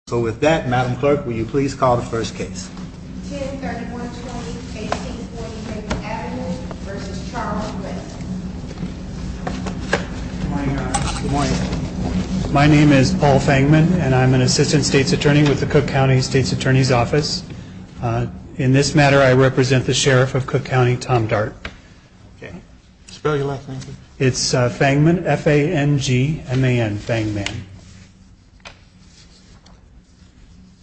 Good morning, Your Honor. Good morning. My name is Paul Fangman, and I'm an Assistant State's Attorney with the Cook County State's Attorney's Office. In this matter, I represent the Sheriff of Cook County, Tom Dart. It's Fangman, F-A-N-G-M-A-N, Fangman.